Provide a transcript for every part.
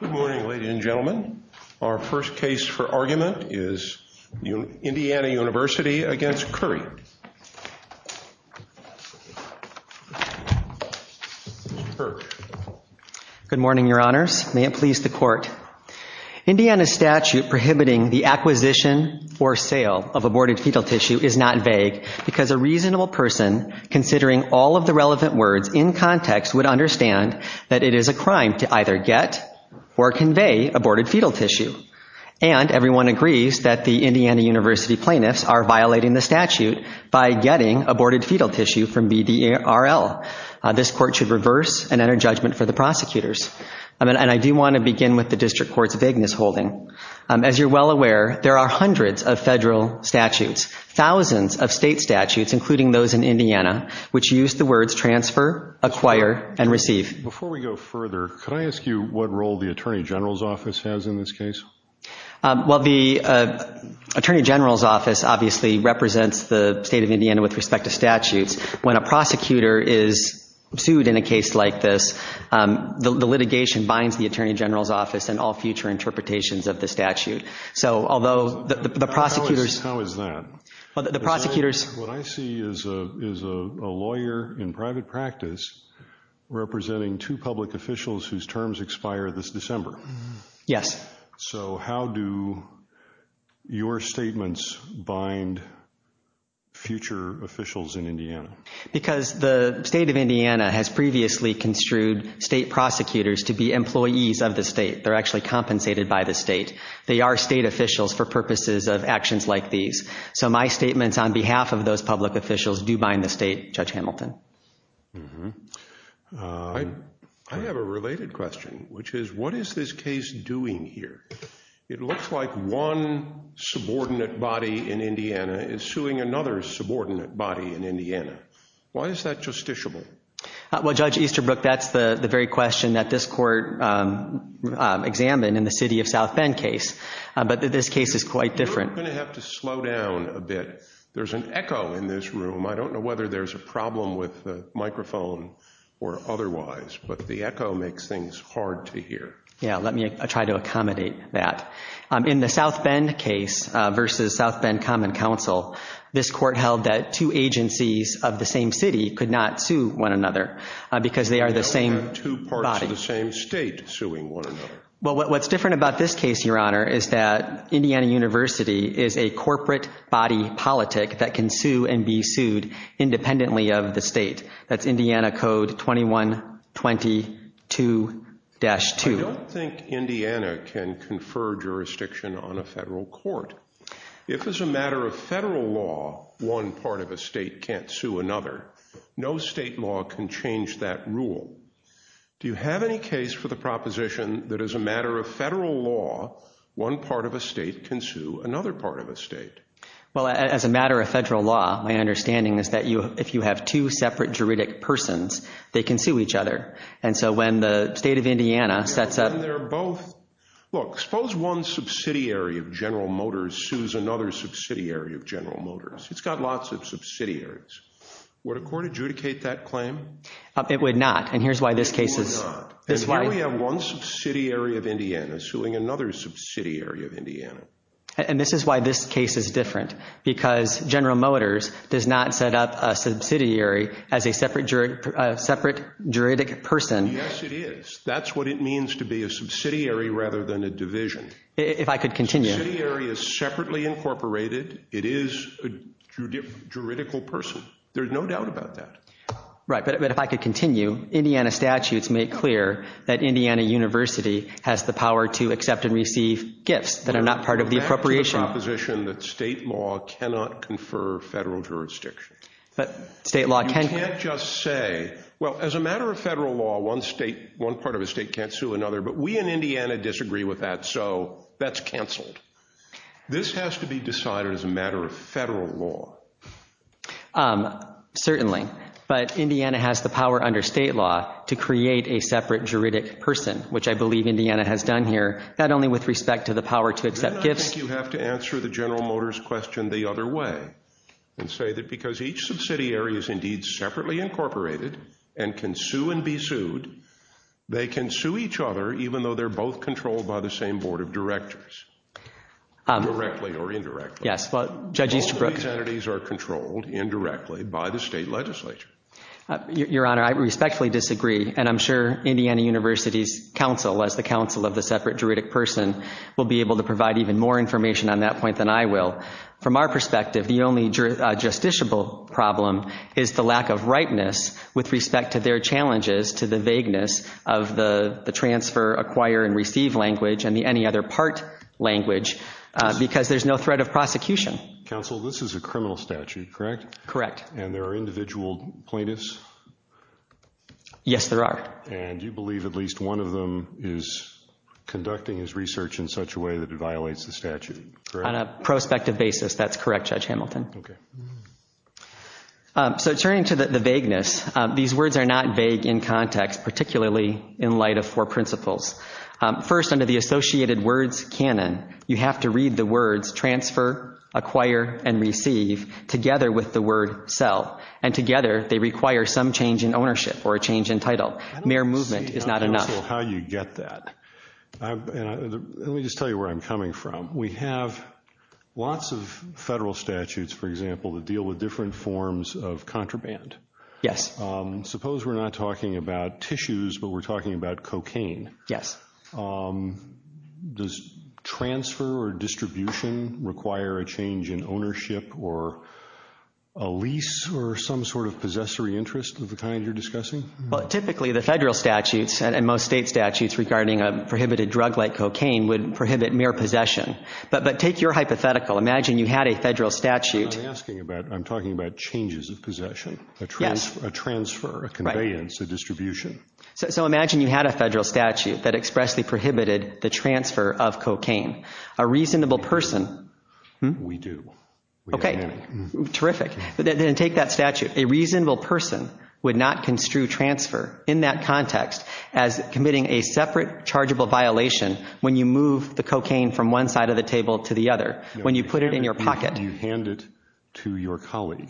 Good morning, ladies and gentlemen. Our first case for argument is Indiana University against Curry. Good morning, Your Honors. May it please the Court. Indiana's statute prohibiting the acquisition or sale of aborted fetal tissue is not vague because a reasonable person, considering all of the relevant words in context, would understand that it is a crime to either get or not get. Or convey aborted fetal tissue. And everyone agrees that the Indiana University plaintiffs are violating the statute by getting aborted fetal tissue from BDARL. This Court should reverse and enter judgment for the prosecutors. And I do want to begin with the District Court's vagueness holding. As you're well aware, there are hundreds of federal statutes, thousands of state statutes, including those in Indiana, which use the words transfer, acquire, and receive. Before we go further, could I ask you what role the Attorney General's Office has in this case? Well, the Attorney General's Office obviously represents the state of Indiana with respect to statutes. When a prosecutor is sued in a case like this, the litigation binds the Attorney General's Office and all future interpretations of the statute. So although the prosecutors How is that? The prosecutors What I see is a lawyer in private practice representing two public officials whose terms expire this December. Yes. So how do your statements bind future officials in Indiana? Because the state of Indiana has previously construed state prosecutors to be employees of the state. They're actually compensated by the state. They are state officials for purposes of actions like these. So my statements on behalf of those public officials do bind the state, Judge Hamilton. I have a related question, which is what is this case doing here? It looks like one subordinate body in Indiana is suing another subordinate body in Indiana. Why is that justiciable? Well, Judge Easterbrook, that's the very question that this court examined in the city of South Bend case. But this case is quite different. We're going to have to slow down a bit. There's an echo in this room. I don't know whether there's a problem with the microphone or otherwise, but the echo makes things hard to hear. Yeah, let me try to accommodate that. In the South Bend case versus South Bend Common Council, this court held that two agencies of the same city could not sue one another because they are the same body. Two parts of the same state suing one another. Well, what's different about this case, Your Honor, is that Indiana University is a corporate body politic that can sue and be sued independently of the state. That's Indiana Code 2122-2. I don't think Indiana can confer jurisdiction on a federal court. If as a matter of federal law, one part of a state can't sue another, no state law can change that rule. Do you have any case for the proposition that as a matter of federal law, one part of a state can sue another part of a state? Well, as a matter of federal law, my understanding is that if you have two separate juridic persons, they can sue each other. And so when the state of Indiana sets up— And they're both—look, suppose one subsidiary of General Motors sues another subsidiary of General Motors. It's got lots of subsidiaries. Would a court adjudicate that claim? It would not, and here's why this case is— It would not. And here we have one subsidiary of Indiana suing another subsidiary of Indiana. And this is why this case is different, because General Motors does not set up a subsidiary as a separate juridic person. Yes, it is. That's what it means to be a subsidiary rather than a division. If I could continue— Subsidiary is separately incorporated. It is a juridical person. There's no doubt about that. Right, but if I could continue, Indiana statutes make clear that Indiana University has the power to accept and receive gifts that are not part of the appropriation— That's the proposition that state law cannot confer federal jurisdiction. But state law can— You can't just say, well, as a matter of federal law, one part of a state can't sue another, but we in Indiana disagree with that, so that's canceled. This has to be decided as a matter of federal law. Certainly, but Indiana has the power under state law to create a separate juridic person, which I believe Indiana has done here, not only with respect to the power to accept gifts— You have to answer the General Motors question the other way and say that because each subsidiary is indeed separately incorporated and can sue and be sued, they can sue each other even though they're both controlled by the same board of directors, directly or indirectly. Yes, well, Judge Easterbrook— Your Honor, I respectfully disagree, and I'm sure Indiana University's counsel, as the counsel of the separate juridic person, will be able to provide even more information on that point than I will. From our perspective, the only justiciable problem is the lack of rightness with respect to their challenges to the vagueness of the transfer, acquire, and receive language, and the any other part language, because there's no threat of prosecution. Counsel, this is a criminal statute, correct? Correct. And there are individual plaintiffs? Yes, there are. And you believe at least one of them is conducting his research in such a way that it violates the statute, correct? On a prospective basis, that's correct, Judge Hamilton. Okay. So turning to the vagueness, these words are not vague in context, particularly in light of four principles. First, under the associated words canon, you have to read the words transfer, acquire, and receive together with the word sell, and together they require some change in ownership or a change in title. Mere movement is not enough. I don't understand how you get that. Let me just tell you where I'm coming from. We have lots of federal statutes, for example, that deal with different forms of contraband. Yes. Suppose we're not talking about tissues, but we're talking about cocaine. Yes. Does transfer or distribution require a change in ownership or a lease or some sort of possessory interest of the kind you're discussing? Well, typically the federal statutes and most state statutes regarding a prohibited drug like cocaine would prohibit mere possession. But take your hypothetical. Imagine you had a federal statute. I'm not asking about it. I'm talking about changes of possession, a transfer, a conveyance, a distribution. So imagine you had a federal statute that expressly prohibited the transfer of cocaine. A reasonable person. We do. Okay. Terrific. Then take that statute. A reasonable person would not construe transfer in that context as committing a separate, chargeable violation when you move the cocaine from one side of the table to the other, when you put it in your pocket. You hand it to your colleague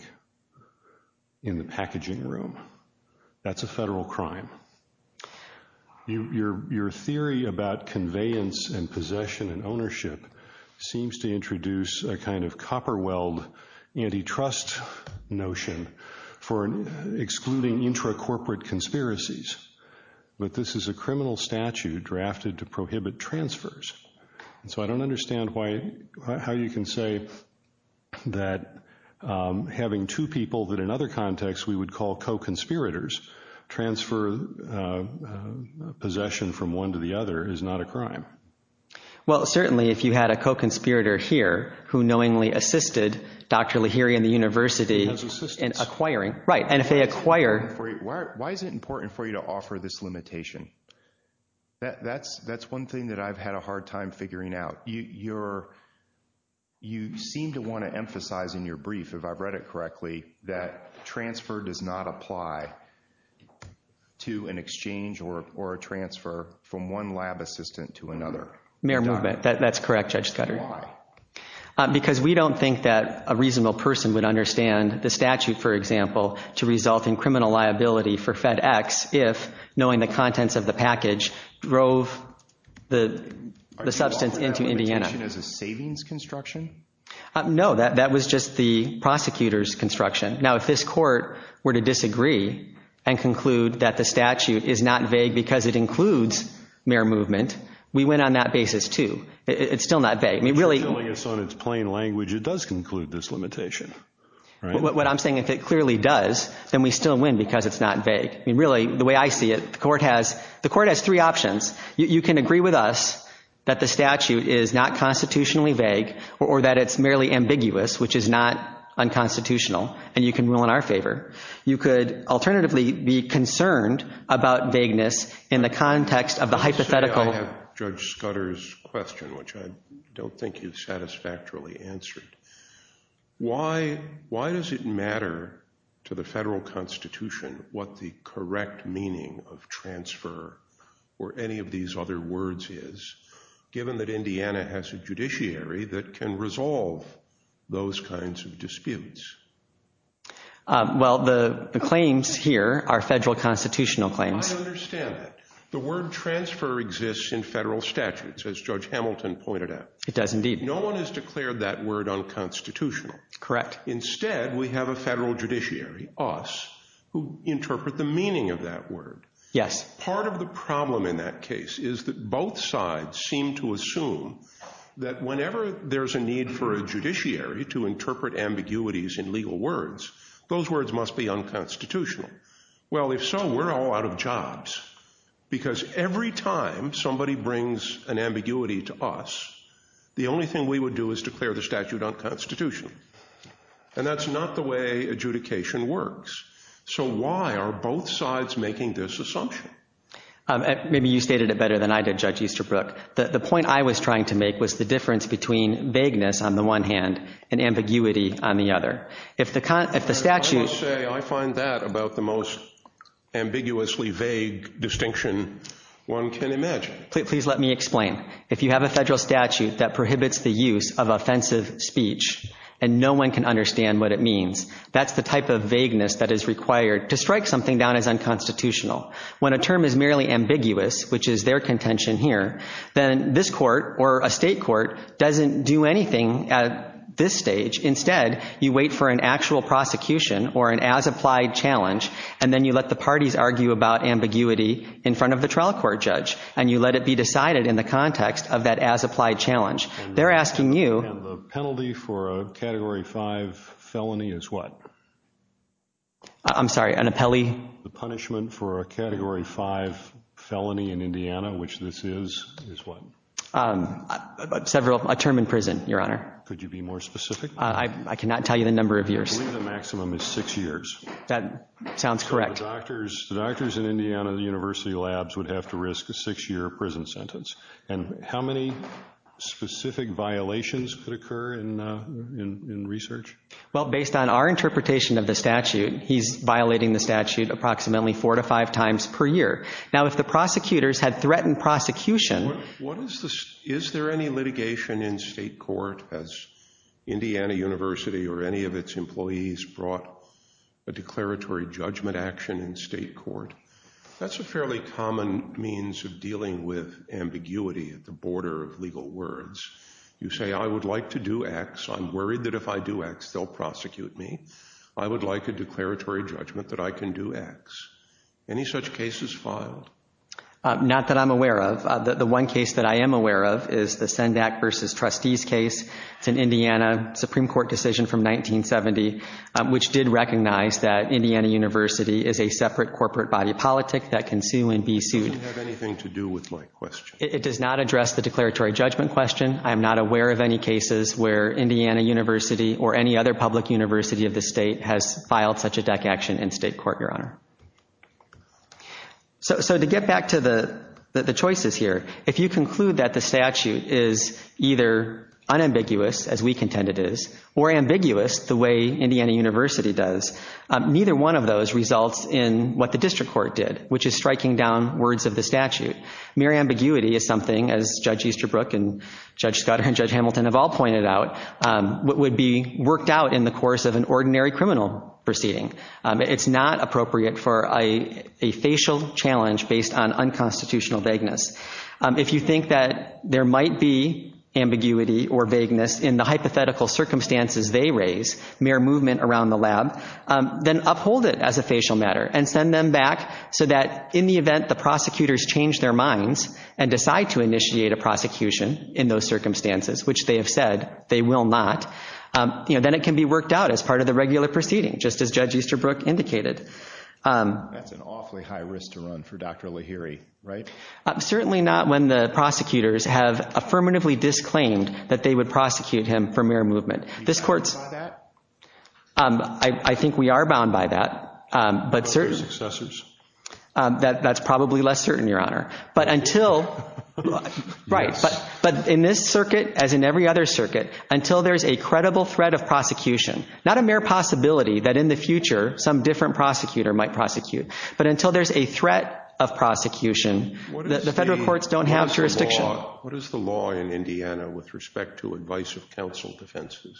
in the packaging room. That's a federal crime. Your theory about conveyance and possession and ownership seems to introduce a kind of copper-weld antitrust notion for excluding intracorporate conspiracies. But this is a criminal statute drafted to prohibit transfers. So I don't understand how you can say that having two people that in other contexts we would call co-conspirators transfer possession from one to the other is not a crime. Well, certainly if you had a co-conspirator here who knowingly assisted Dr. Lahiri and the university in acquiring. Right. And if they acquire. Why is it important for you to offer this limitation? That's one thing that I've had a hard time figuring out. You seem to want to emphasize in your brief, if I've read it correctly, that transfer does not apply to an exchange or a transfer from one lab assistant to another. Mayor Movement, that's correct, Judge Scudery. Why? Because we don't think that a reasonable person would understand the statute, for example, to result in criminal liability for FedEx if knowing the contents of the package drove the substance into Indiana. Are you calling that limitation as a savings construction? No, that was just the prosecutor's construction. Now, if this court were to disagree and conclude that the statute is not vague because it includes Mayor Movement, we went on that basis too. It's still not vague. If you're telling us on its plain language it does include this limitation, right? What I'm saying, if it clearly does, then we still win because it's not vague. Really, the way I see it, the court has three options. You can agree with us that the statute is not constitutionally vague or that it's merely ambiguous, which is not unconstitutional, and you can rule in our favor. You could alternatively be concerned about vagueness in the context of the hypothetical. I have Judge Scudder's question, which I don't think he's satisfactorily answered. Why does it matter to the federal constitution what the correct meaning of transfer or any of these other words is, given that Indiana has a judiciary that can resolve those kinds of disputes? Well, the claims here are federal constitutional claims. I understand that. The word transfer exists in federal statutes, as Judge Hamilton pointed out. It does indeed. No one has declared that word unconstitutional. Correct. Instead, we have a federal judiciary, us, who interpret the meaning of that word. Yes. Part of the problem in that case is that both sides seem to assume that whenever there's a need for a judiciary to interpret ambiguities in legal words, those words must be unconstitutional. Well, if so, we're all out of jobs because every time somebody brings an ambiguity to us, the only thing we would do is declare the statute unconstitutional, and that's not the way adjudication works. So why are both sides making this assumption? Maybe you stated it better than I did, Judge Easterbrook. The point I was trying to make was the difference between vagueness on the one hand and ambiguity on the other. I will say I find that about the most ambiguously vague distinction one can imagine. Please let me explain. If you have a federal statute that prohibits the use of offensive speech and no one can understand what it means, that's the type of vagueness that is required to strike something down as unconstitutional. When a term is merely ambiguous, which is their contention here, then this court or a state court doesn't do anything at this stage. Instead, you wait for an actual prosecution or an as-applied challenge, and then you let the parties argue about ambiguity in front of the trial court judge, and you let it be decided in the context of that as-applied challenge. They're asking you— And the penalty for a Category 5 felony is what? I'm sorry, an appelli— The punishment for a Category 5 felony in Indiana, which this is, is what? Several—a term in prison, Your Honor. Could you be more specific? I cannot tell you the number of years. I believe the maximum is six years. That sounds correct. So the doctors in Indiana, the university labs, would have to risk a six-year prison sentence. And how many specific violations could occur in research? Well, based on our interpretation of the statute, he's violating the statute approximately four to five times per year. Now, if the prosecutors had threatened prosecution— What is the—is there any litigation in state court as Indiana University or any of its employees brought a declaratory judgment action in state court? That's a fairly common means of dealing with ambiguity at the border of legal words. You say, I would like to do X. I'm worried that if I do X, they'll prosecute me. I would like a declaratory judgment that I can do X. Any such cases filed? Not that I'm aware of. The one case that I am aware of is the Sendak v. Trustees case. It's an Indiana Supreme Court decision from 1970, which did recognize that Indiana University is a separate corporate body of politic that can sue and be sued. It doesn't have anything to do with my question. It does not address the declaratory judgment question. I am not aware of any cases where Indiana University or any other public university of the state has filed such a deck action in state court, Your Honor. So to get back to the choices here, if you conclude that the statute is either unambiguous, as we contend it is, or ambiguous, the way Indiana University does, neither one of those results in what the district court did, which is striking down words of the statute. Mere ambiguity is something, as Judge Easterbrook and Judge Scudder and Judge Hamilton have all pointed out, would be worked out in the course of an ordinary criminal proceeding. It's not appropriate for a facial challenge based on unconstitutional vagueness. If you think that there might be ambiguity or vagueness in the hypothetical circumstances they raise, mere movement around the lab, then uphold it as a facial matter and send them back so that in the event the prosecutors change their minds and decide to initiate a prosecution in those circumstances, which they have said they will not, then it can be worked out as part of the regular proceeding, just as Judge Easterbrook indicated. That's an awfully high risk to run for Dr. Lahiri, right? Certainly not when the prosecutors have affirmatively disclaimed that they would prosecute him for mere movement. Are you bound by that? I think we are bound by that. Are there successors? That's probably less certain, Your Honor. But in this circuit, as in every other circuit, until there's a credible threat of prosecution, not a mere possibility that in the future some different prosecutor might prosecute, but until there's a threat of prosecution, the federal courts don't have jurisdiction. What is the law in Indiana with respect to advice of counsel defenses?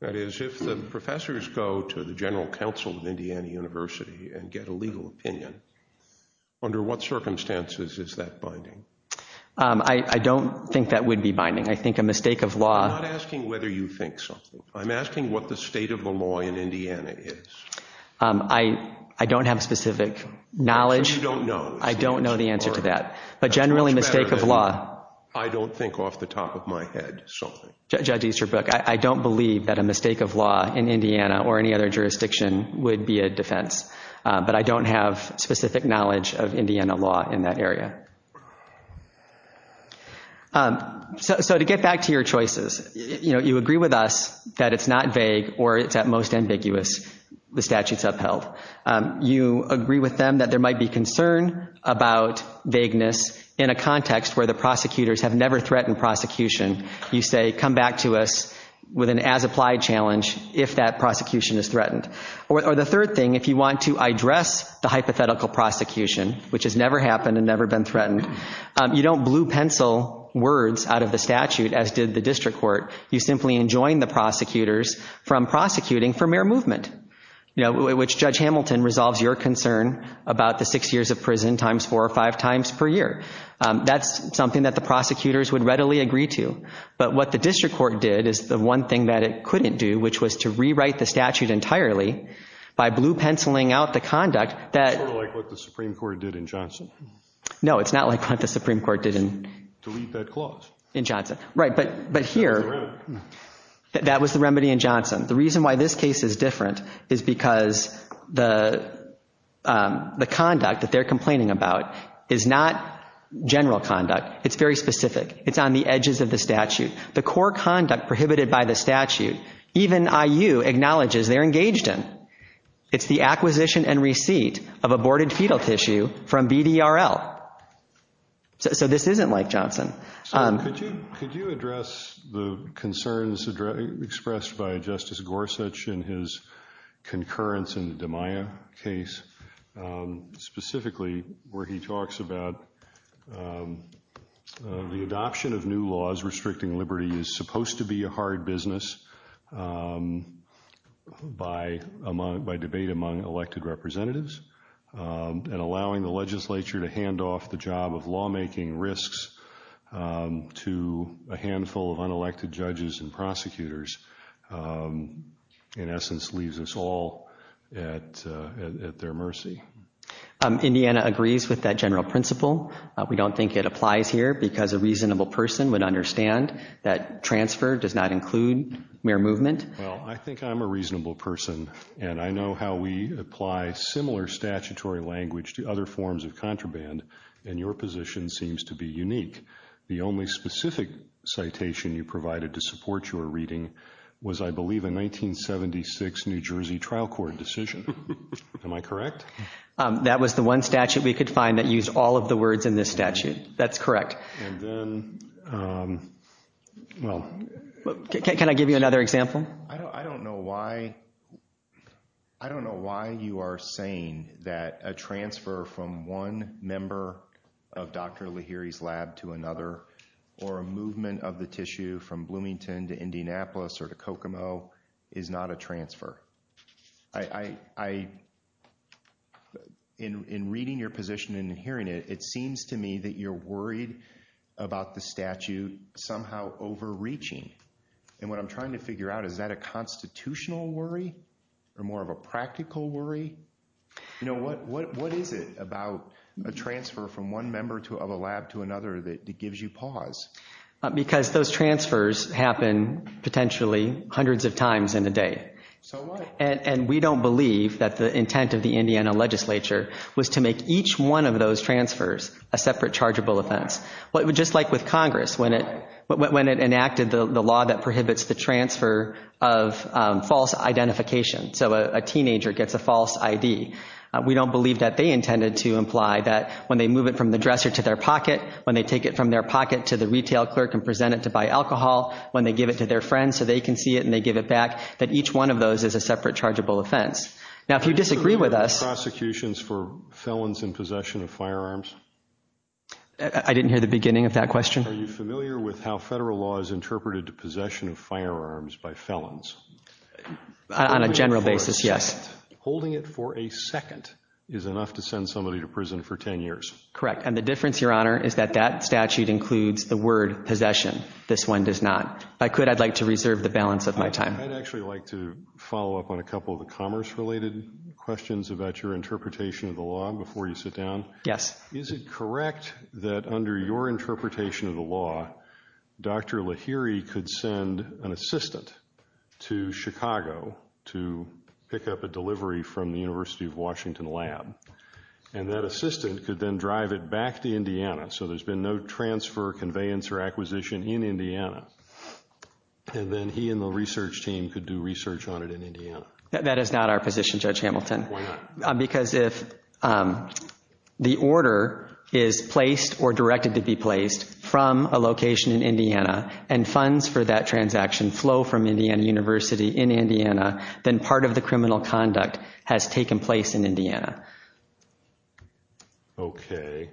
That is, if the professors go to the general counsel of Indiana University and get a legal opinion, under what circumstances is that binding? I don't think that would be binding. I think a mistake of law— I'm not asking whether you think something. I'm asking what the state of the law in Indiana is. I don't have specific knowledge. Which you don't know. I don't know the answer to that. But generally, mistake of law— It's better that I don't think off the top of my head something. Judge Easterbrook, I don't believe that a mistake of law in Indiana or any other jurisdiction would be a defense. But I don't have specific knowledge of Indiana law in that area. So to get back to your choices, you agree with us that it's not vague or it's at most ambiguous, the statutes upheld. You agree with them that there might be concern about vagueness in a context where the prosecutors have never threatened prosecution. You say, come back to us with an as-applied challenge if that prosecution is threatened. Or the third thing, if you want to address the hypothetical prosecution, which has never happened and never been threatened, you don't blue-pencil words out of the statute, as did the district court. You simply enjoin the prosecutors from prosecuting for mere movement, which Judge Hamilton resolves your concern about the six years of prison times four or five times per year. That's something that the prosecutors would readily agree to. But what the district court did is the one thing that it couldn't do, which was to rewrite the statute entirely by blue-penciling out the conduct that— Sort of like what the Supreme Court did in Johnson. No, it's not like what the Supreme Court did in— Delete that clause. In Johnson. Right, but here— That was the remedy. That was the remedy in Johnson. The reason why this case is different is because the conduct that they're complaining about is not general conduct. It's very specific. It's on the edges of the statute. The core conduct prohibited by the statute, even IU acknowledges they're engaged in. It's the acquisition and receipt of aborted fetal tissue from BDRL. So this isn't like Johnson. Could you address the concerns expressed by Justice Gorsuch in his concurrence in the DiMaia case, specifically where he talks about the adoption of new laws restricting liberty is supposed to be a hard business by debate among elected representatives and allowing the legislature to hand off the job of lawmaking risks to a handful of unelected judges and prosecutors, in essence, leaves us all at their mercy. Indiana agrees with that general principle. We don't think it applies here because a reasonable person would understand that transfer does not include mere movement. Well, I think I'm a reasonable person, and I know how we apply similar statutory language to other forms of contraband, and your position seems to be unique. The only specific citation you provided to support your reading was, I believe, a 1976 New Jersey trial court decision. Am I correct? That was the one statute we could find that used all of the words in this statute. That's correct. And then, well. Can I give you another example? I don't know why you are saying that a transfer from one member of Dr. Lahiri's lab to another or a movement of the tissue from Bloomington to Indianapolis or to Kokomo is not a transfer. In reading your position and hearing it, it seems to me that you're worried about the statute somehow overreaching. And what I'm trying to figure out, is that a constitutional worry or more of a practical worry? You know, what is it about a transfer from one member of a lab to another that gives you pause? Because those transfers happen potentially hundreds of times in a day. So what? And we don't believe that the intent of the Indiana legislature was to make each one of those transfers a separate chargeable offense. Just like with Congress, when it enacted the law that prohibits the transfer of false identification. So a teenager gets a false ID. We don't believe that they intended to imply that when they move it from the dresser to their pocket, when they take it from their pocket to the retail clerk and present it to buy alcohol, when they give it to their friends so they can see it and they give it back, that each one of those is a separate chargeable offense. Now, if you disagree with us. Prosecutions for felons in possession of firearms? I didn't hear the beginning of that question. Are you familiar with how federal law is interpreted to possession of firearms by felons? On a general basis, yes. Holding it for a second is enough to send somebody to prison for 10 years. Correct. And the difference, Your Honor, is that that statute includes the word possession. This one does not. If I could, I'd like to reserve the balance of my time. I'd actually like to follow up on a couple of the commerce-related questions about your interpretation of the law before you sit down. Yes. Is it correct that under your interpretation of the law, Dr. Lahiri could send an assistant to Chicago to pick up a delivery from the University of Washington lab, and that assistant could then drive it back to Indiana, so there's been no transfer, conveyance, or acquisition in Indiana, and then he and the research team could do research on it in Indiana? That is not our position, Judge Hamilton. Why not? Because if the order is placed or directed to be placed from a location in Indiana and funds for that transaction flow from Indiana University in Indiana, then part of the criminal conduct has taken place in Indiana. Okay.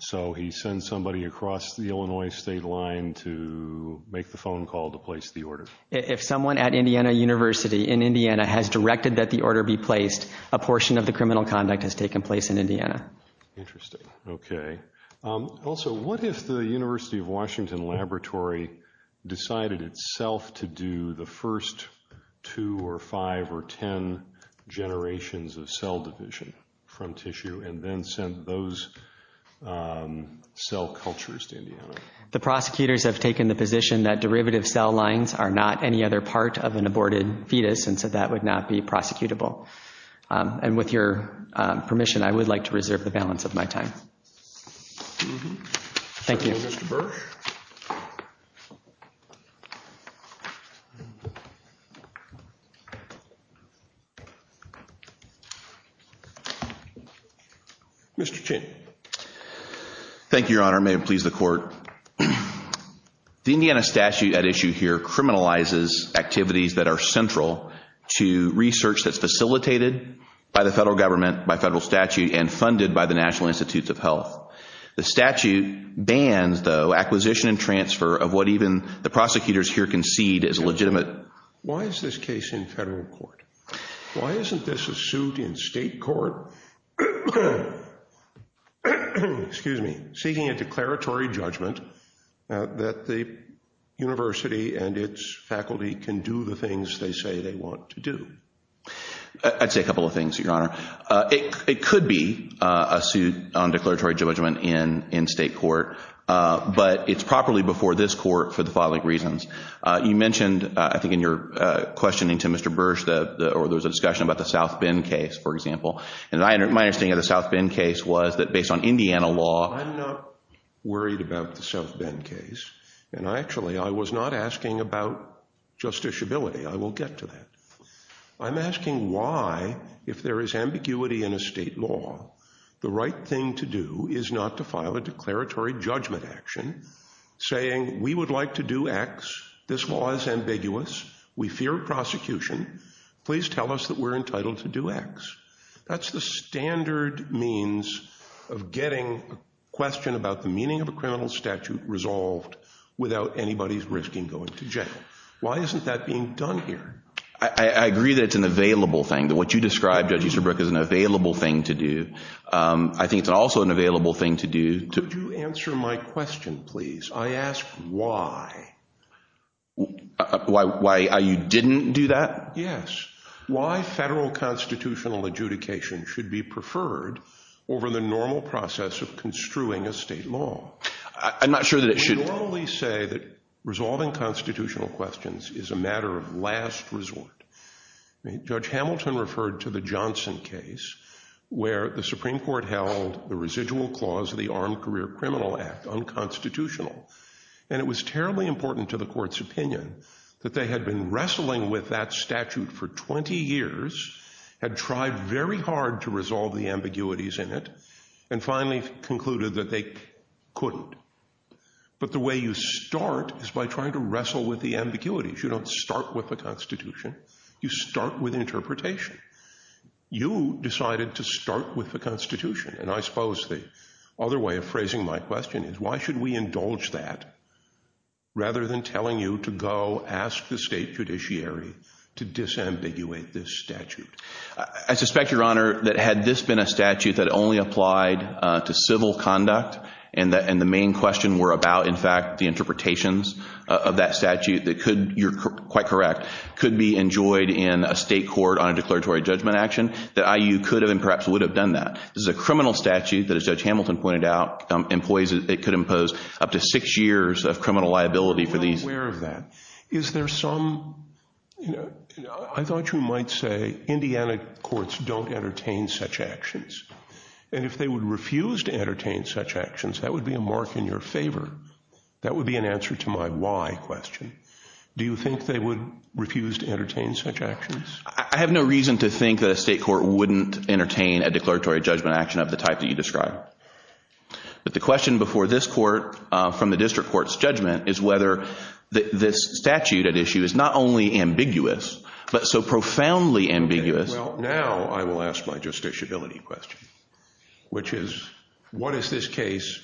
So he sends somebody across the Illinois state line to make the phone call to place the order. If someone at Indiana University in Indiana has directed that the order be placed, a portion of the criminal conduct has taken place in Indiana. Interesting. Okay. Also, what if the University of Washington laboratory decided itself to do the first two or five or ten generations of cell division from tissue and then sent those cell cultures to Indiana? The prosecutors have taken the position that derivative cell lines are not any other part of an aborted fetus, and so that would not be prosecutable. And with your permission, I would like to reserve the balance of my time. Thank you. Thank you, Mr. Bursch. Mr. Chin. Thank you, Your Honor. May it please the Court. The Indiana statute at issue here criminalizes activities that are central to research that's facilitated by the federal government, by federal statute, and funded by the National Institutes of Health. The statute bans, though, acquisition and transfer of what even the prosecutors here concede is legitimate. Why is this case in federal court? Why isn't this a suit in state court? Excuse me. Seeking a declaratory judgment that the university and its faculty can do the things they say they want to do. I'd say a couple of things, Your Honor. It could be a suit on declaratory judgment in state court, but it's properly before this court for the following reasons. You mentioned, I think in your questioning to Mr. Bursch, or there was a discussion about the South Bend case, for example, and my understanding of the South Bend case was that based on Indiana law. I'm not worried about the South Bend case, and actually I was not asking about justiciability. I will get to that. I'm asking why, if there is ambiguity in a state law, the right thing to do is not to file a declaratory judgment action saying we would like to do X, this law is ambiguous, we fear prosecution, please tell us that we're entitled to do X. That's the standard means of getting a question about the meaning of a criminal statute resolved without anybody's risking going to jail. Why isn't that being done here? I agree that it's an available thing. What you described, Judge Easterbrook, is an available thing to do. I think it's also an available thing to do. Could you answer my question, please? I ask why. Why you didn't do that? Yes. Why federal constitutional adjudication should be preferred over the normal process of construing a state law? I'm not sure that it should. We normally say that resolving constitutional questions is a matter of last resort. Judge Hamilton referred to the Johnson case where the Supreme Court held the residual clause of the Armed Career Criminal Act unconstitutional, and it was terribly important to the court's opinion that they had been wrestling with that statute for 20 years, had tried very hard to resolve the ambiguities in it, and finally concluded that they couldn't. But the way you start is by trying to wrestle with the ambiguities. You don't start with the Constitution. You start with interpretation. You decided to start with the Constitution. And I suppose the other way of phrasing my question is why should we indulge that rather than telling you to go ask the state judiciary to disambiguate this statute? I suspect, Your Honor, that had this been a statute that only applied to civil conduct and the main question were about, in fact, the interpretations of that statute that could, you're quite correct, could be enjoyed in a state court on a declaratory judgment action, that IU could have and perhaps would have done that. This is a criminal statute that, as Judge Hamilton pointed out, employs, it could impose up to six years of criminal liability for these. I'm not aware of that. Is there some, you know, I thought you might say Indiana courts don't entertain such actions. And if they would refuse to entertain such actions, that would be a mark in your favor. That would be an answer to my why question. Do you think they would refuse to entertain such actions? I have no reason to think that a state court wouldn't entertain a declaratory judgment action of the type that you described. But the question before this court from the district court's judgment is whether this statute at issue is not only ambiguous but so profoundly ambiguous. Well, now I will ask my justiciability question, which is what is this case?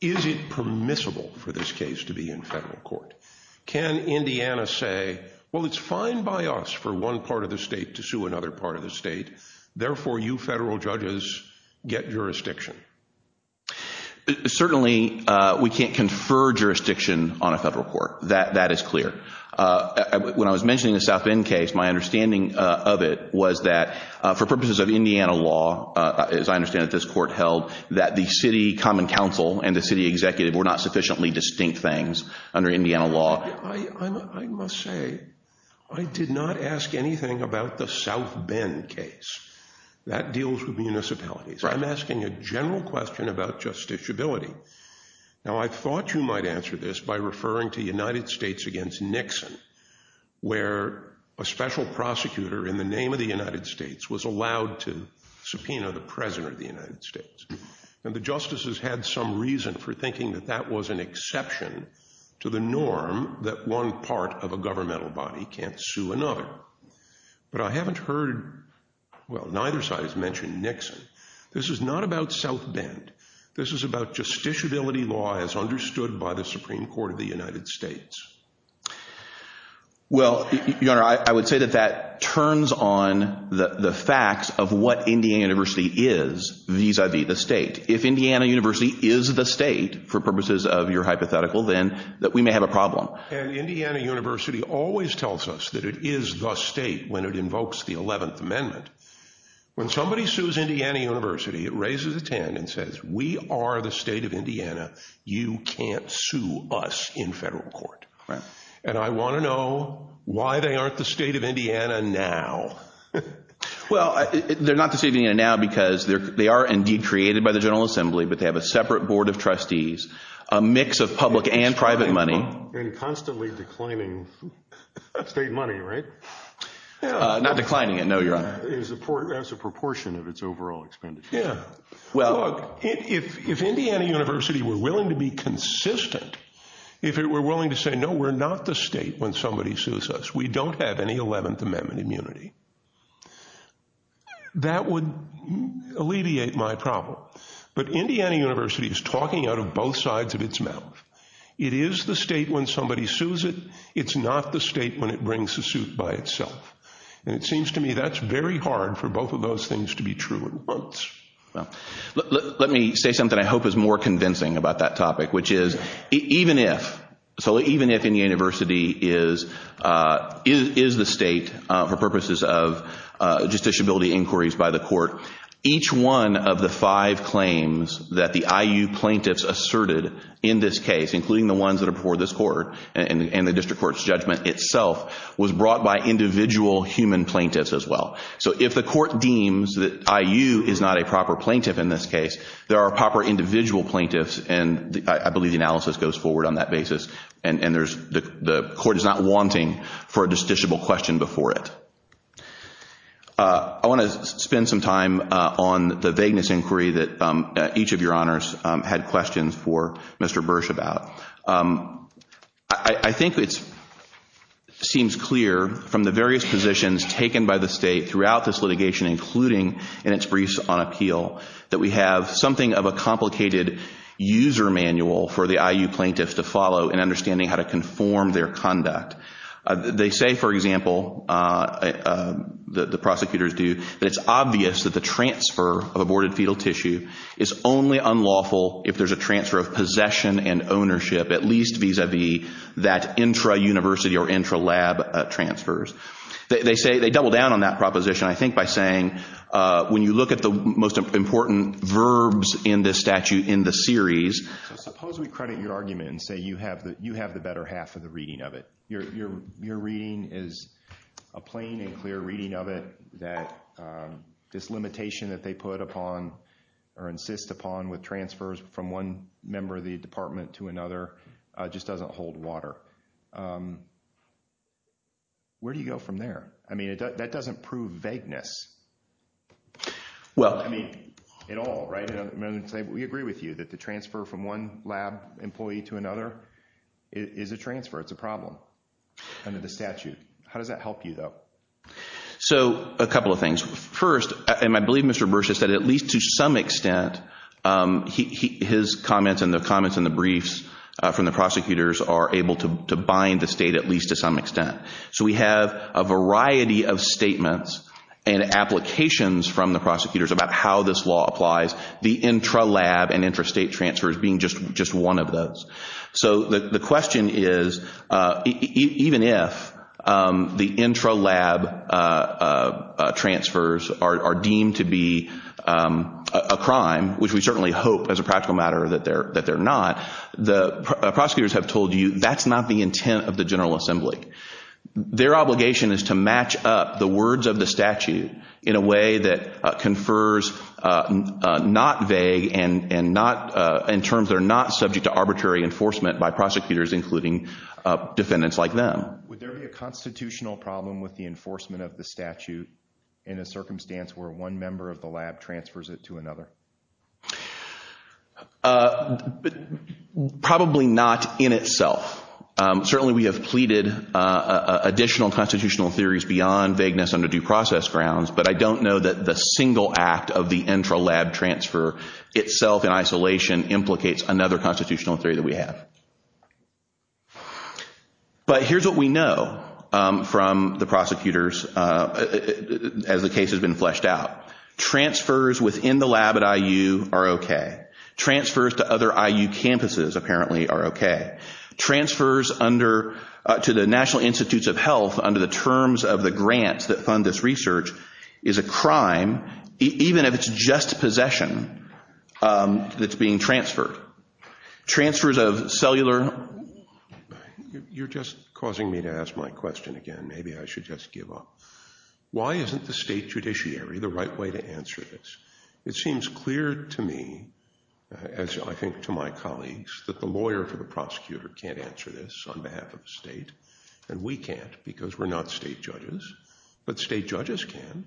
Is it permissible for this case to be in federal court? Can Indiana say, well, it's fine by us for one part of the state to sue another part of the state. Therefore, you federal judges get jurisdiction. Certainly, we can't confer jurisdiction on a federal court. That is clear. When I was mentioning the South Bend case, my understanding of it was that for purposes of Indiana law, as I understand it, this court held that the city common council and the city executive were not sufficiently distinct things under Indiana law. I must say, I did not ask anything about the South Bend case. That deals with municipalities. I'm asking a general question about justiciability. Now, I thought you might answer this by referring to United States against Nixon, where a special prosecutor in the name of the United States was allowed to subpoena the president of the United States. And the justices had some reason for thinking that that was an exception to the norm that one part of a governmental body can't sue another. But I haven't heard, well, neither side has mentioned Nixon. This is not about South Bend. This is about justiciability law as understood by the Supreme Court of the United States. Well, Your Honor, I would say that that turns on the facts of what Indiana University is vis-a-vis the state. If Indiana University is the state for purposes of your hypothetical, then we may have a problem. And Indiana University always tells us that it is the state when it invokes the 11th Amendment. When somebody sues Indiana University, it raises a 10 and says, we are the state of Indiana. You can't sue us in federal court. And I want to know why they aren't the state of Indiana now. Well, they're not the state of Indiana now because they are indeed created by the General Assembly, but they have a separate board of trustees, a mix of public and private money. And constantly declining state money, right? Not declining it, no, Your Honor. That's a proportion of its overall expenditure. Yeah. Look, if Indiana University were willing to be consistent, if it were willing to say, no, we're not the state when somebody sues us, we don't have any 11th Amendment immunity, that would alleviate my problem. But Indiana University is talking out of both sides of its mouth. It is the state when somebody sues it. It's not the state when it brings a suit by itself. And it seems to me that's very hard for both of those things to be true at once. Well, let me say something I hope is more convincing about that topic, which is even if, so even if Indiana University is the state for purposes of justiciability inquiries by the court, each one of the five claims that the IU plaintiffs asserted in this case, including the ones that are before this court and the district court's judgment itself, was brought by individual human plaintiffs as well. So if the court deems that IU is not a proper plaintiff in this case, there are proper individual plaintiffs, and I believe the analysis goes forward on that basis. And the court is not wanting for a justiciable question before it. I want to spend some time on the vagueness inquiry that each of your honors had questions for Mr. Bursch about. I think it seems clear from the various positions taken by the state throughout this litigation, including in its briefs on appeal, that we have something of a complicated user manual for the IU plaintiffs to follow in understanding how to conform their conduct. They say, for example, the prosecutors do, that it's obvious that the transfer of aborted fetal tissue is only unlawful if there's a transfer of possession and ownership, at least vis-a-vis that intra-university or intra-lab transfers. They say they double down on that proposition, I think, by saying when you look at the most important verbs in this statute in the series— Your reading is a plain and clear reading of it that this limitation that they put upon or insist upon with transfers from one member of the department to another just doesn't hold water. Where do you go from there? I mean that doesn't prove vagueness. Well— I mean, in all, right? We agree with you that the transfer from one lab employee to another is a transfer. It's a problem under the statute. How does that help you, though? So, a couple of things. First, and I believe Mr. Bursch has said at least to some extent, his comments and the comments in the briefs from the prosecutors are able to bind the state at least to some extent. So we have a variety of statements and applications from the prosecutors about how this law applies, the intra-lab and intra-state transfers being just one of those. So the question is, even if the intra-lab transfers are deemed to be a crime, which we certainly hope as a practical matter that they're not, the prosecutors have told you that's not the intent of the General Assembly. Their obligation is to match up the words of the statute in a way that confers not vague and not—in terms that are not subject to arbitrary enforcement by prosecutors, including defendants like them. Would there be a constitutional problem with the enforcement of the statute in a circumstance where one member of the lab transfers it to another? Probably not in itself. Certainly we have pleaded additional constitutional theories beyond vagueness under due process grounds, but I don't know that the single act of the intra-lab transfer itself in isolation implicates another constitutional theory that we have. But here's what we know from the prosecutors as the case has been fleshed out. Transfers within the lab at IU are okay. Transfers to other IU campuses apparently are okay. Transfers to the National Institutes of Health under the terms of the grants that fund this research is a crime, even if it's just possession that's being transferred. Transfers of cellular— You're just causing me to ask my question again. Maybe I should just give up. Why isn't the state judiciary the right way to answer this? It seems clear to me, as I think to my colleagues, that the lawyer for the prosecutor can't answer this on behalf of the state, and we can't because we're not state judges. But state judges can.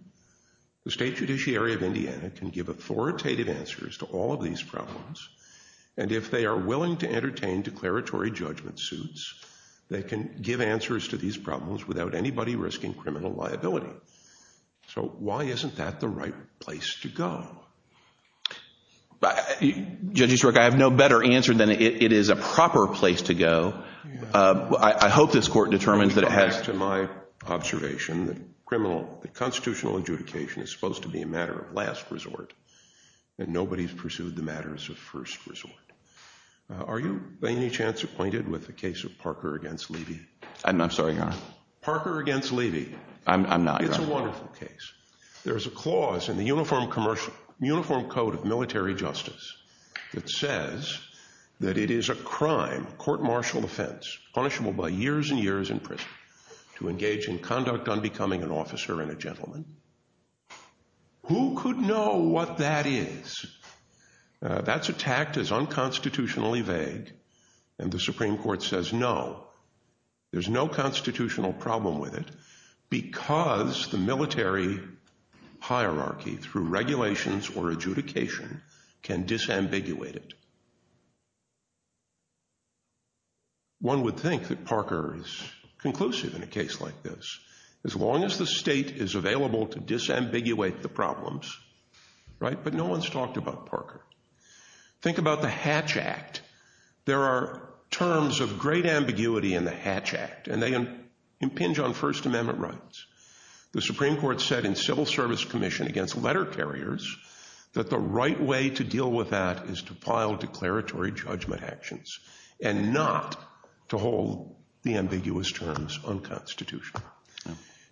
The state judiciary of Indiana can give authoritative answers to all of these problems. And if they are willing to entertain declaratory judgment suits, they can give answers to these problems without anybody risking criminal liability. So why isn't that the right place to go? Judge Easterbrook, I have no better answer than it is a proper place to go. I hope this court determines that it has— Going back to my observation that constitutional adjudication is supposed to be a matter of last resort, and nobody's pursued the matters of first resort. Are you by any chance acquainted with the case of Parker v. Levy? Parker v. Levy. I'm not. It's a wonderful case. There's a clause in the Uniform Code of Military Justice that says that it is a crime, a court-martial offense, punishable by years and years in prison, to engage in conduct unbecoming an officer and a gentleman. Who could know what that is? That's attacked as unconstitutionally vague, and the Supreme Court says no. There's no constitutional problem with it because the military hierarchy, through regulations or adjudication, can disambiguate it. One would think that Parker is conclusive in a case like this. As long as the state is available to disambiguate the problems, right? But no one's talked about Parker. Think about the Hatch Act. There are terms of great ambiguity in the Hatch Act, and they impinge on First Amendment rights. The Supreme Court said in civil service commission against letter carriers that the right way to deal with that is to file declaratory judgment actions and not to hold the ambiguous terms unconstitutional.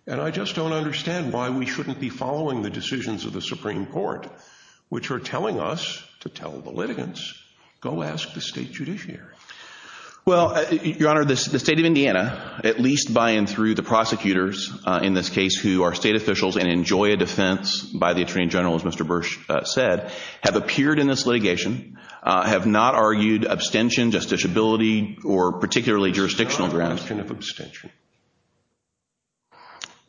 And I just don't understand why we shouldn't be following the decisions of the Supreme Court, which are telling us to tell the litigants, go ask the state judiciary. Well, Your Honor, the state of Indiana, at least by and through the prosecutors in this case who are state officials and enjoy a defense by the attorney general, as Mr. Bursch said, have appeared in this litigation, have not argued abstention, justiciability, or particularly jurisdictional grounds. It's a question of abstention.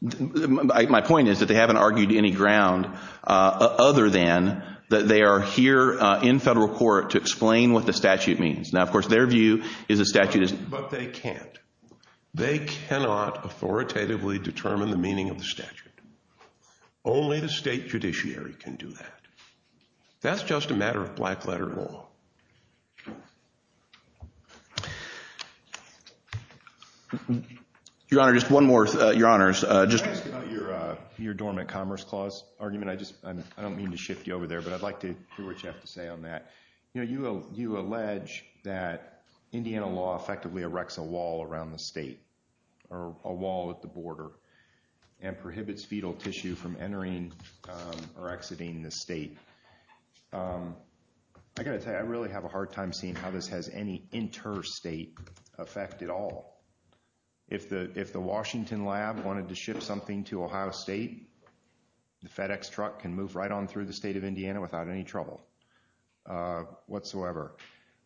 My point is that they haven't argued any ground other than that they are here in federal court to explain what the statute means. Now, of course, their view is the statute is— But they can't. They cannot authoritatively determine the meaning of the statute. Only the state judiciary can do that. That's just a matter of black letter law. Your Honor, just one more, Your Honors. Can I ask about your dormant commerce clause argument? I don't mean to shift you over there, but I'd like to hear what you have to say on that. You know, you allege that Indiana law effectively erects a wall around the state or a wall at the border and prohibits fetal tissue from entering or exiting the state. I got to tell you, I really have a hard time seeing how this has any interstate effect at all. If the Washington lab wanted to ship something to Ohio State, the FedEx truck can move right on through the state of Indiana without any trouble whatsoever.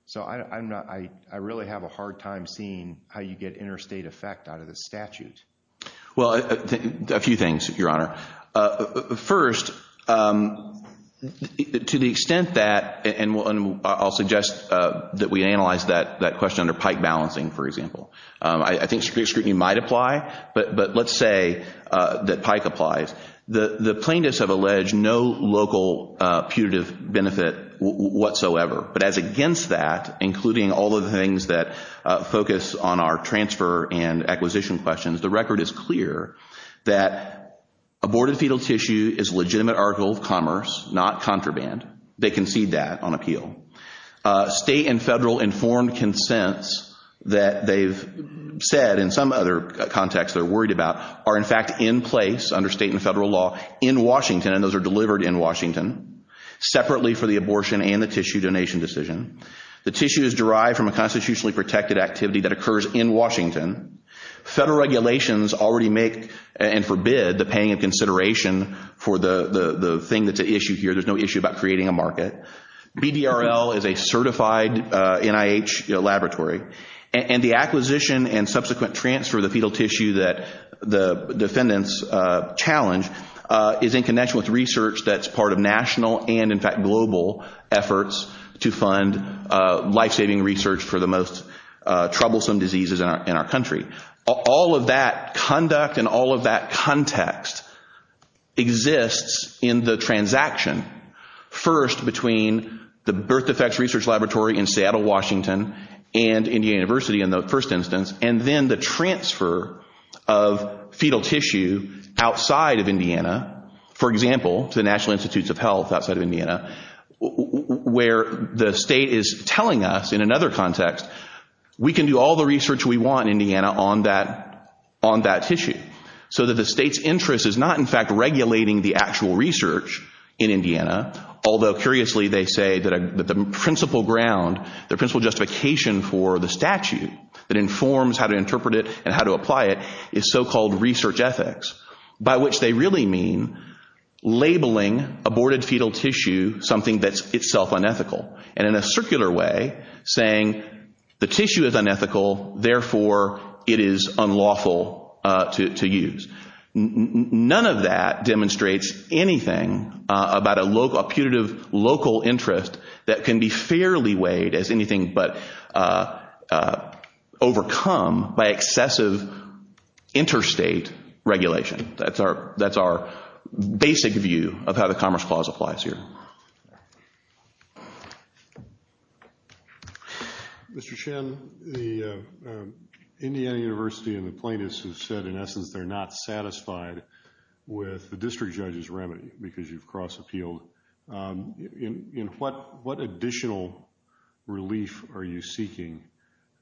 So I really have a hard time seeing how you get interstate effect out of this statute. Well, a few things, Your Honor. First, to the extent that—and I'll suggest that we analyze that question under pike balancing, for example. I think strict scrutiny might apply, but let's say that pike applies. The plaintiffs have alleged no local putative benefit whatsoever. But as against that, including all of the things that focus on our transfer and acquisition questions, the record is clear that aborted fetal tissue is a legitimate article of commerce, not contraband. They concede that on appeal. State and federal informed consents that they've said in some other context they're worried about are in fact in place under state and federal law in Washington, and those are delivered in Washington, separately for the abortion and the tissue donation decision. The tissue is derived from a constitutionally protected activity that occurs in Washington. Federal regulations already make and forbid the paying of consideration for the thing that's at issue here. There's no issue about creating a market. BDRL is a certified NIH laboratory. And the acquisition and subsequent transfer of the fetal tissue that the defendants challenge is in connection with research that's part of national and, in fact, global efforts to fund life-saving research for the most troublesome diseases in our country. All of that conduct and all of that context exists in the transaction, first between the Birth Defects Research Laboratory in Seattle, Washington, and Indiana University in the first instance, and then the transfer of fetal tissue outside of Indiana, for example, to the National Institutes of Health outside of Indiana. Where the state is telling us, in another context, we can do all the research we want in Indiana on that tissue. So that the state's interest is not, in fact, regulating the actual research in Indiana, although curiously they say that the principal ground, the principal justification for the statute that informs how to interpret it and how to apply it is so-called research ethics. By which they really mean labeling aborted fetal tissue something that's itself unethical. And in a circular way, saying the tissue is unethical, therefore it is unlawful to use. None of that demonstrates anything about a putative local interest that can be fairly weighed as anything but overcome by excessive interstate regulation. That's our basic view of how the Commerce Clause applies here. Mr. Chen, the Indiana University and the plaintiffs have said, in essence, they're not satisfied with the district judge's remedy because you've cross-appealed. What additional relief are you seeking?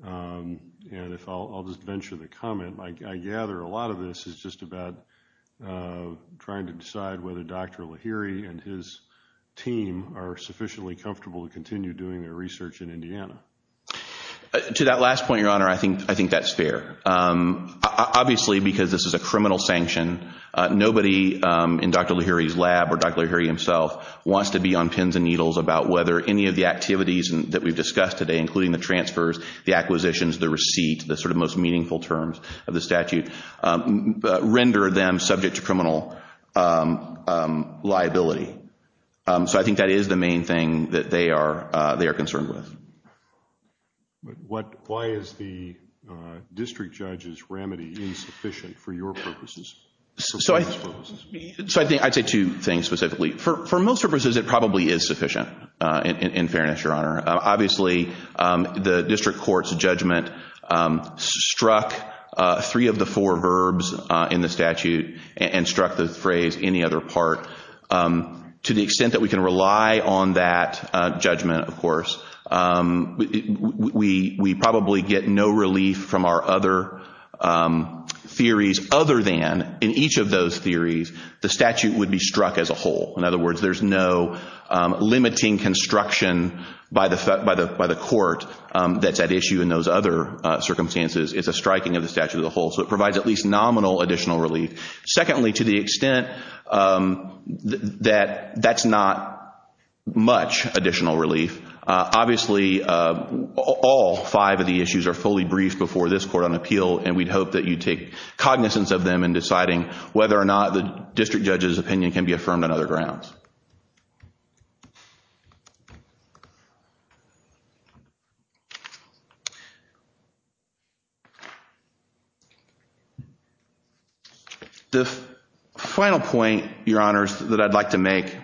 And if I'll just venture the comment, I gather a lot of this is just about trying to decide whether Dr. Lahiri and his team are sufficiently comfortable to continue doing their research in Indiana. To that last point, Your Honor, I think that's fair. Obviously, because this is a criminal sanction, nobody in Dr. Lahiri's lab or Dr. Lahiri himself wants to be on pins and needles about whether any of the activities that we've discussed today, including the transfers, the acquisitions, the receipt, the sort of most meaningful terms of the statute, render them subject to criminal liability. So I think that is the main thing that they are concerned with. Why is the district judge's remedy insufficient for your purposes? So I'd say two things specifically. For most purposes, it probably is sufficient, in fairness, Your Honor. Obviously, the district court's judgment struck three of the four verbs in the statute and struck the phrase, any other part. To the extent that we can rely on that judgment, of course, we probably get no relief from our other theories other than in each of those theories, the statute would be struck as a whole. In other words, there's no limiting construction by the court that's at issue in those other circumstances. It's a striking of the statute as a whole. So it provides at least nominal additional relief. Secondly, to the extent that that's not much additional relief, obviously all five of the issues are fully briefed before this court on appeal, and we'd hope that you take cognizance of them in deciding whether or not the district judge's opinion can be affirmed on other grounds. The final point, Your Honors, that I'd like to make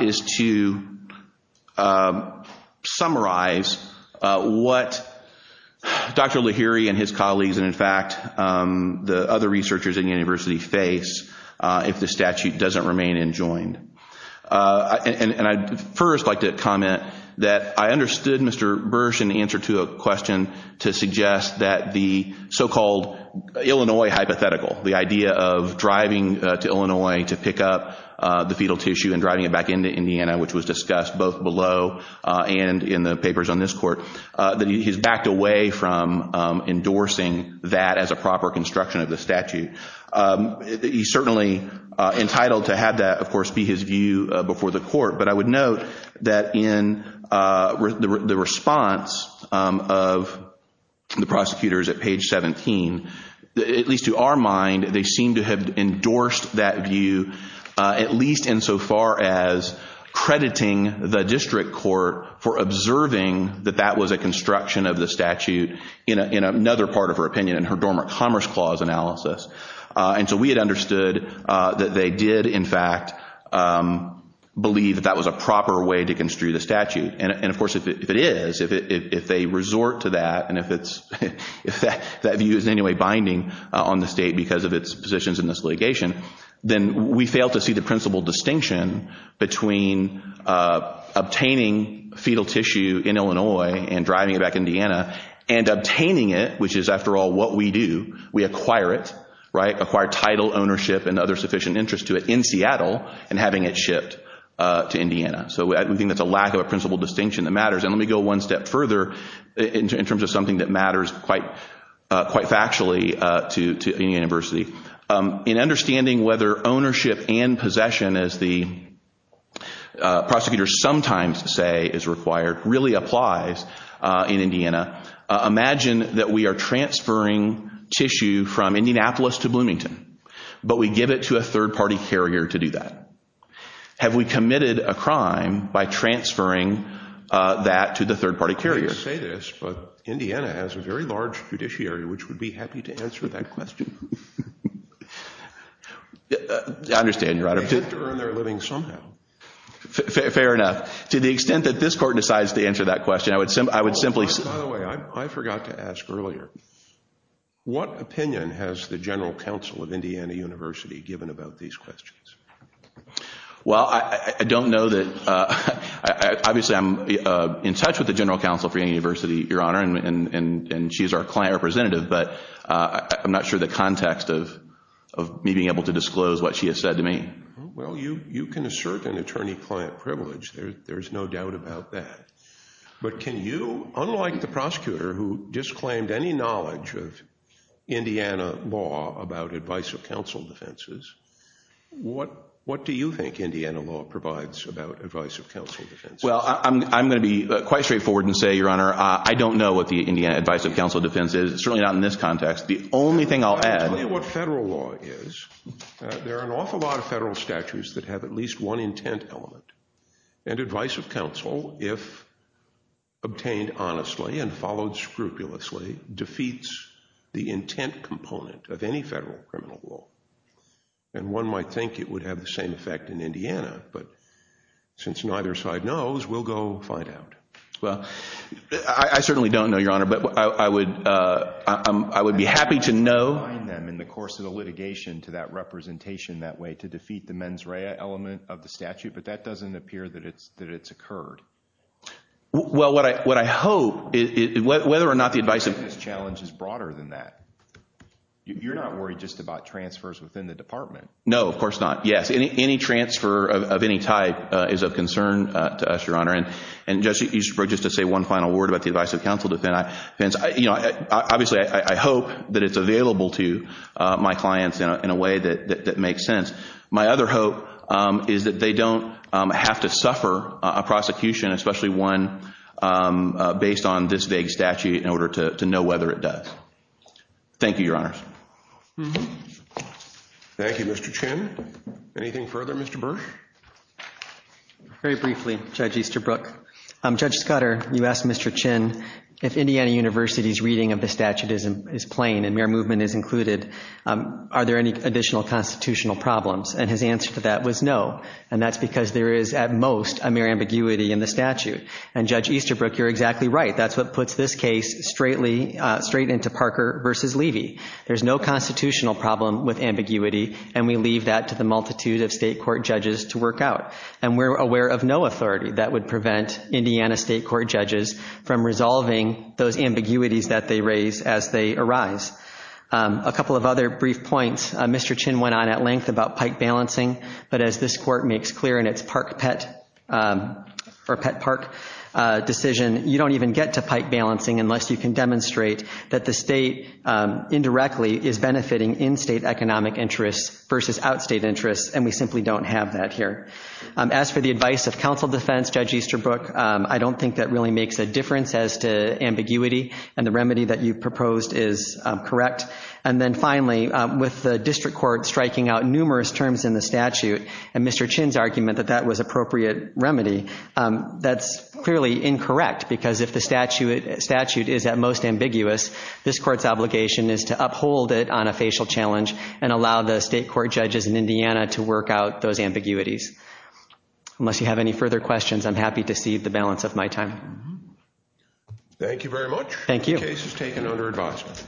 is to summarize what Dr. Lahiri and his colleagues and, in fact, the other researchers at the university face if the statute doesn't remain enjoined. And I'd first like to comment that I understood Mr. Bursch in answer to a question to suggest that the so-called Illinois hypothetical, the idea of driving to Illinois to pick up the fetal tissue and driving it back into Indiana, which was discussed both below and in the papers on this court, that he's backed away from endorsing that as a proper construction of the statute. He's certainly entitled to have that, of course, be his view before the court, but I would note that in the response of the prosecutors at page 17, at least to our mind, they seem to have endorsed that view at least insofar as crediting the district court for observing that that was a construction of the statute in another part of her opinion, in her Dormant Commerce Clause analysis. And so we had understood that they did, in fact, believe that that was a proper way to construe the statute. And, of course, if it is, if they resort to that and if that view is in any way binding on the state because of its positions in this litigation, then we fail to see the principal distinction between obtaining fetal tissue in Illinois and driving it back to Indiana, and obtaining it, which is, after all, what we do. We acquire it, right? Acquire title, ownership, and other sufficient interest to it in Seattle and having it shipped to Indiana. So we think that's a lack of a principal distinction that matters. And let me go one step further in terms of something that matters quite factually to the university. In understanding whether ownership and possession, as the prosecutors sometimes say is required, really applies in Indiana, imagine that we are transferring tissue from Indianapolis to Bloomington, but we give it to a third-party carrier to do that. Have we committed a crime by transferring that to the third-party carrier? I'm sorry to say this, but Indiana has a very large judiciary, which would be happy to answer that question. I understand, Your Honor. They have to earn their living somehow. Fair enough. To the extent that this court decides to answer that question, I would simply say – Oh, by the way, I forgot to ask earlier. What opinion has the general counsel of Indiana University given about these questions? Well, I don't know that – obviously, I'm in touch with the general counsel for Indiana University, Your Honor, and she's our client representative, but I'm not sure the context of me being able to disclose what she has said to me. Well, you can assert an attorney-client privilege. There's no doubt about that. But can you – unlike the prosecutor who disclaimed any knowledge of Indiana law about advice of counsel defenses, what do you think Indiana law provides about advice of counsel defenses? Well, I'm going to be quite straightforward and say, Your Honor, I don't know what the advice of counsel defense is, certainly not in this context. The only thing I'll add – I'll tell you what federal law is. There are an awful lot of federal statutes that have at least one intent element. And advice of counsel, if obtained honestly and followed scrupulously, defeats the intent component of any federal criminal law. And one might think it would have the same effect in Indiana, but since neither side knows, we'll go find out. Well, I certainly don't know, Your Honor, but I would be happy to know. I would remind them in the course of the litigation to that representation that way to defeat the mens rea element of the statute. But that doesn't appear that it's occurred. Well, what I hope – whether or not the advice of – I think this challenge is broader than that. You're not worried just about transfers within the department. No, of course not. Yes, any transfer of any type is of concern to us, Your Honor. And just to say one final word about the advice of counsel defense. Obviously I hope that it's available to my clients in a way that makes sense. My other hope is that they don't have to suffer a prosecution, especially one based on this vague statute, in order to know whether it does. Thank you, Your Honors. Thank you, Mr. Chin. Anything further, Mr. Burke? Very briefly, Judge Easterbrook. Judge Scudder, you asked Mr. Chin if Indiana University's reading of the statute is plain and mere movement is included, are there any additional constitutional problems? And his answer to that was no, and that's because there is at most a mere ambiguity in the statute. And, Judge Easterbrook, you're exactly right. That's what puts this case straight into Parker v. Levy. There's no constitutional problem with ambiguity, and we leave that to the multitude of state court judges to work out. And we're aware of no authority that would prevent Indiana state court judges from resolving those ambiguities that they raise as they arise. A couple of other brief points. Mr. Chin went on at length about pike balancing, but as this court makes clear in its park pet or pet park decision, you don't even get to pike balancing unless you can demonstrate that the state indirectly is benefiting in-state economic interests versus out-state interests, and we simply don't have that here. As for the advice of counsel defense, Judge Easterbrook, I don't think that really makes a difference as to ambiguity and the remedy that you proposed is correct. And then finally, with the district court striking out numerous terms in the statute and Mr. Chin's argument that that was appropriate remedy, that's clearly incorrect, because if the statute is at most ambiguous, this court's obligation is to uphold it on a facial challenge and allow the state court judges in Indiana to work out those ambiguities. Unless you have any further questions, I'm happy to cede the balance of my time. Thank you very much. Thank you. The case is taken under advisement.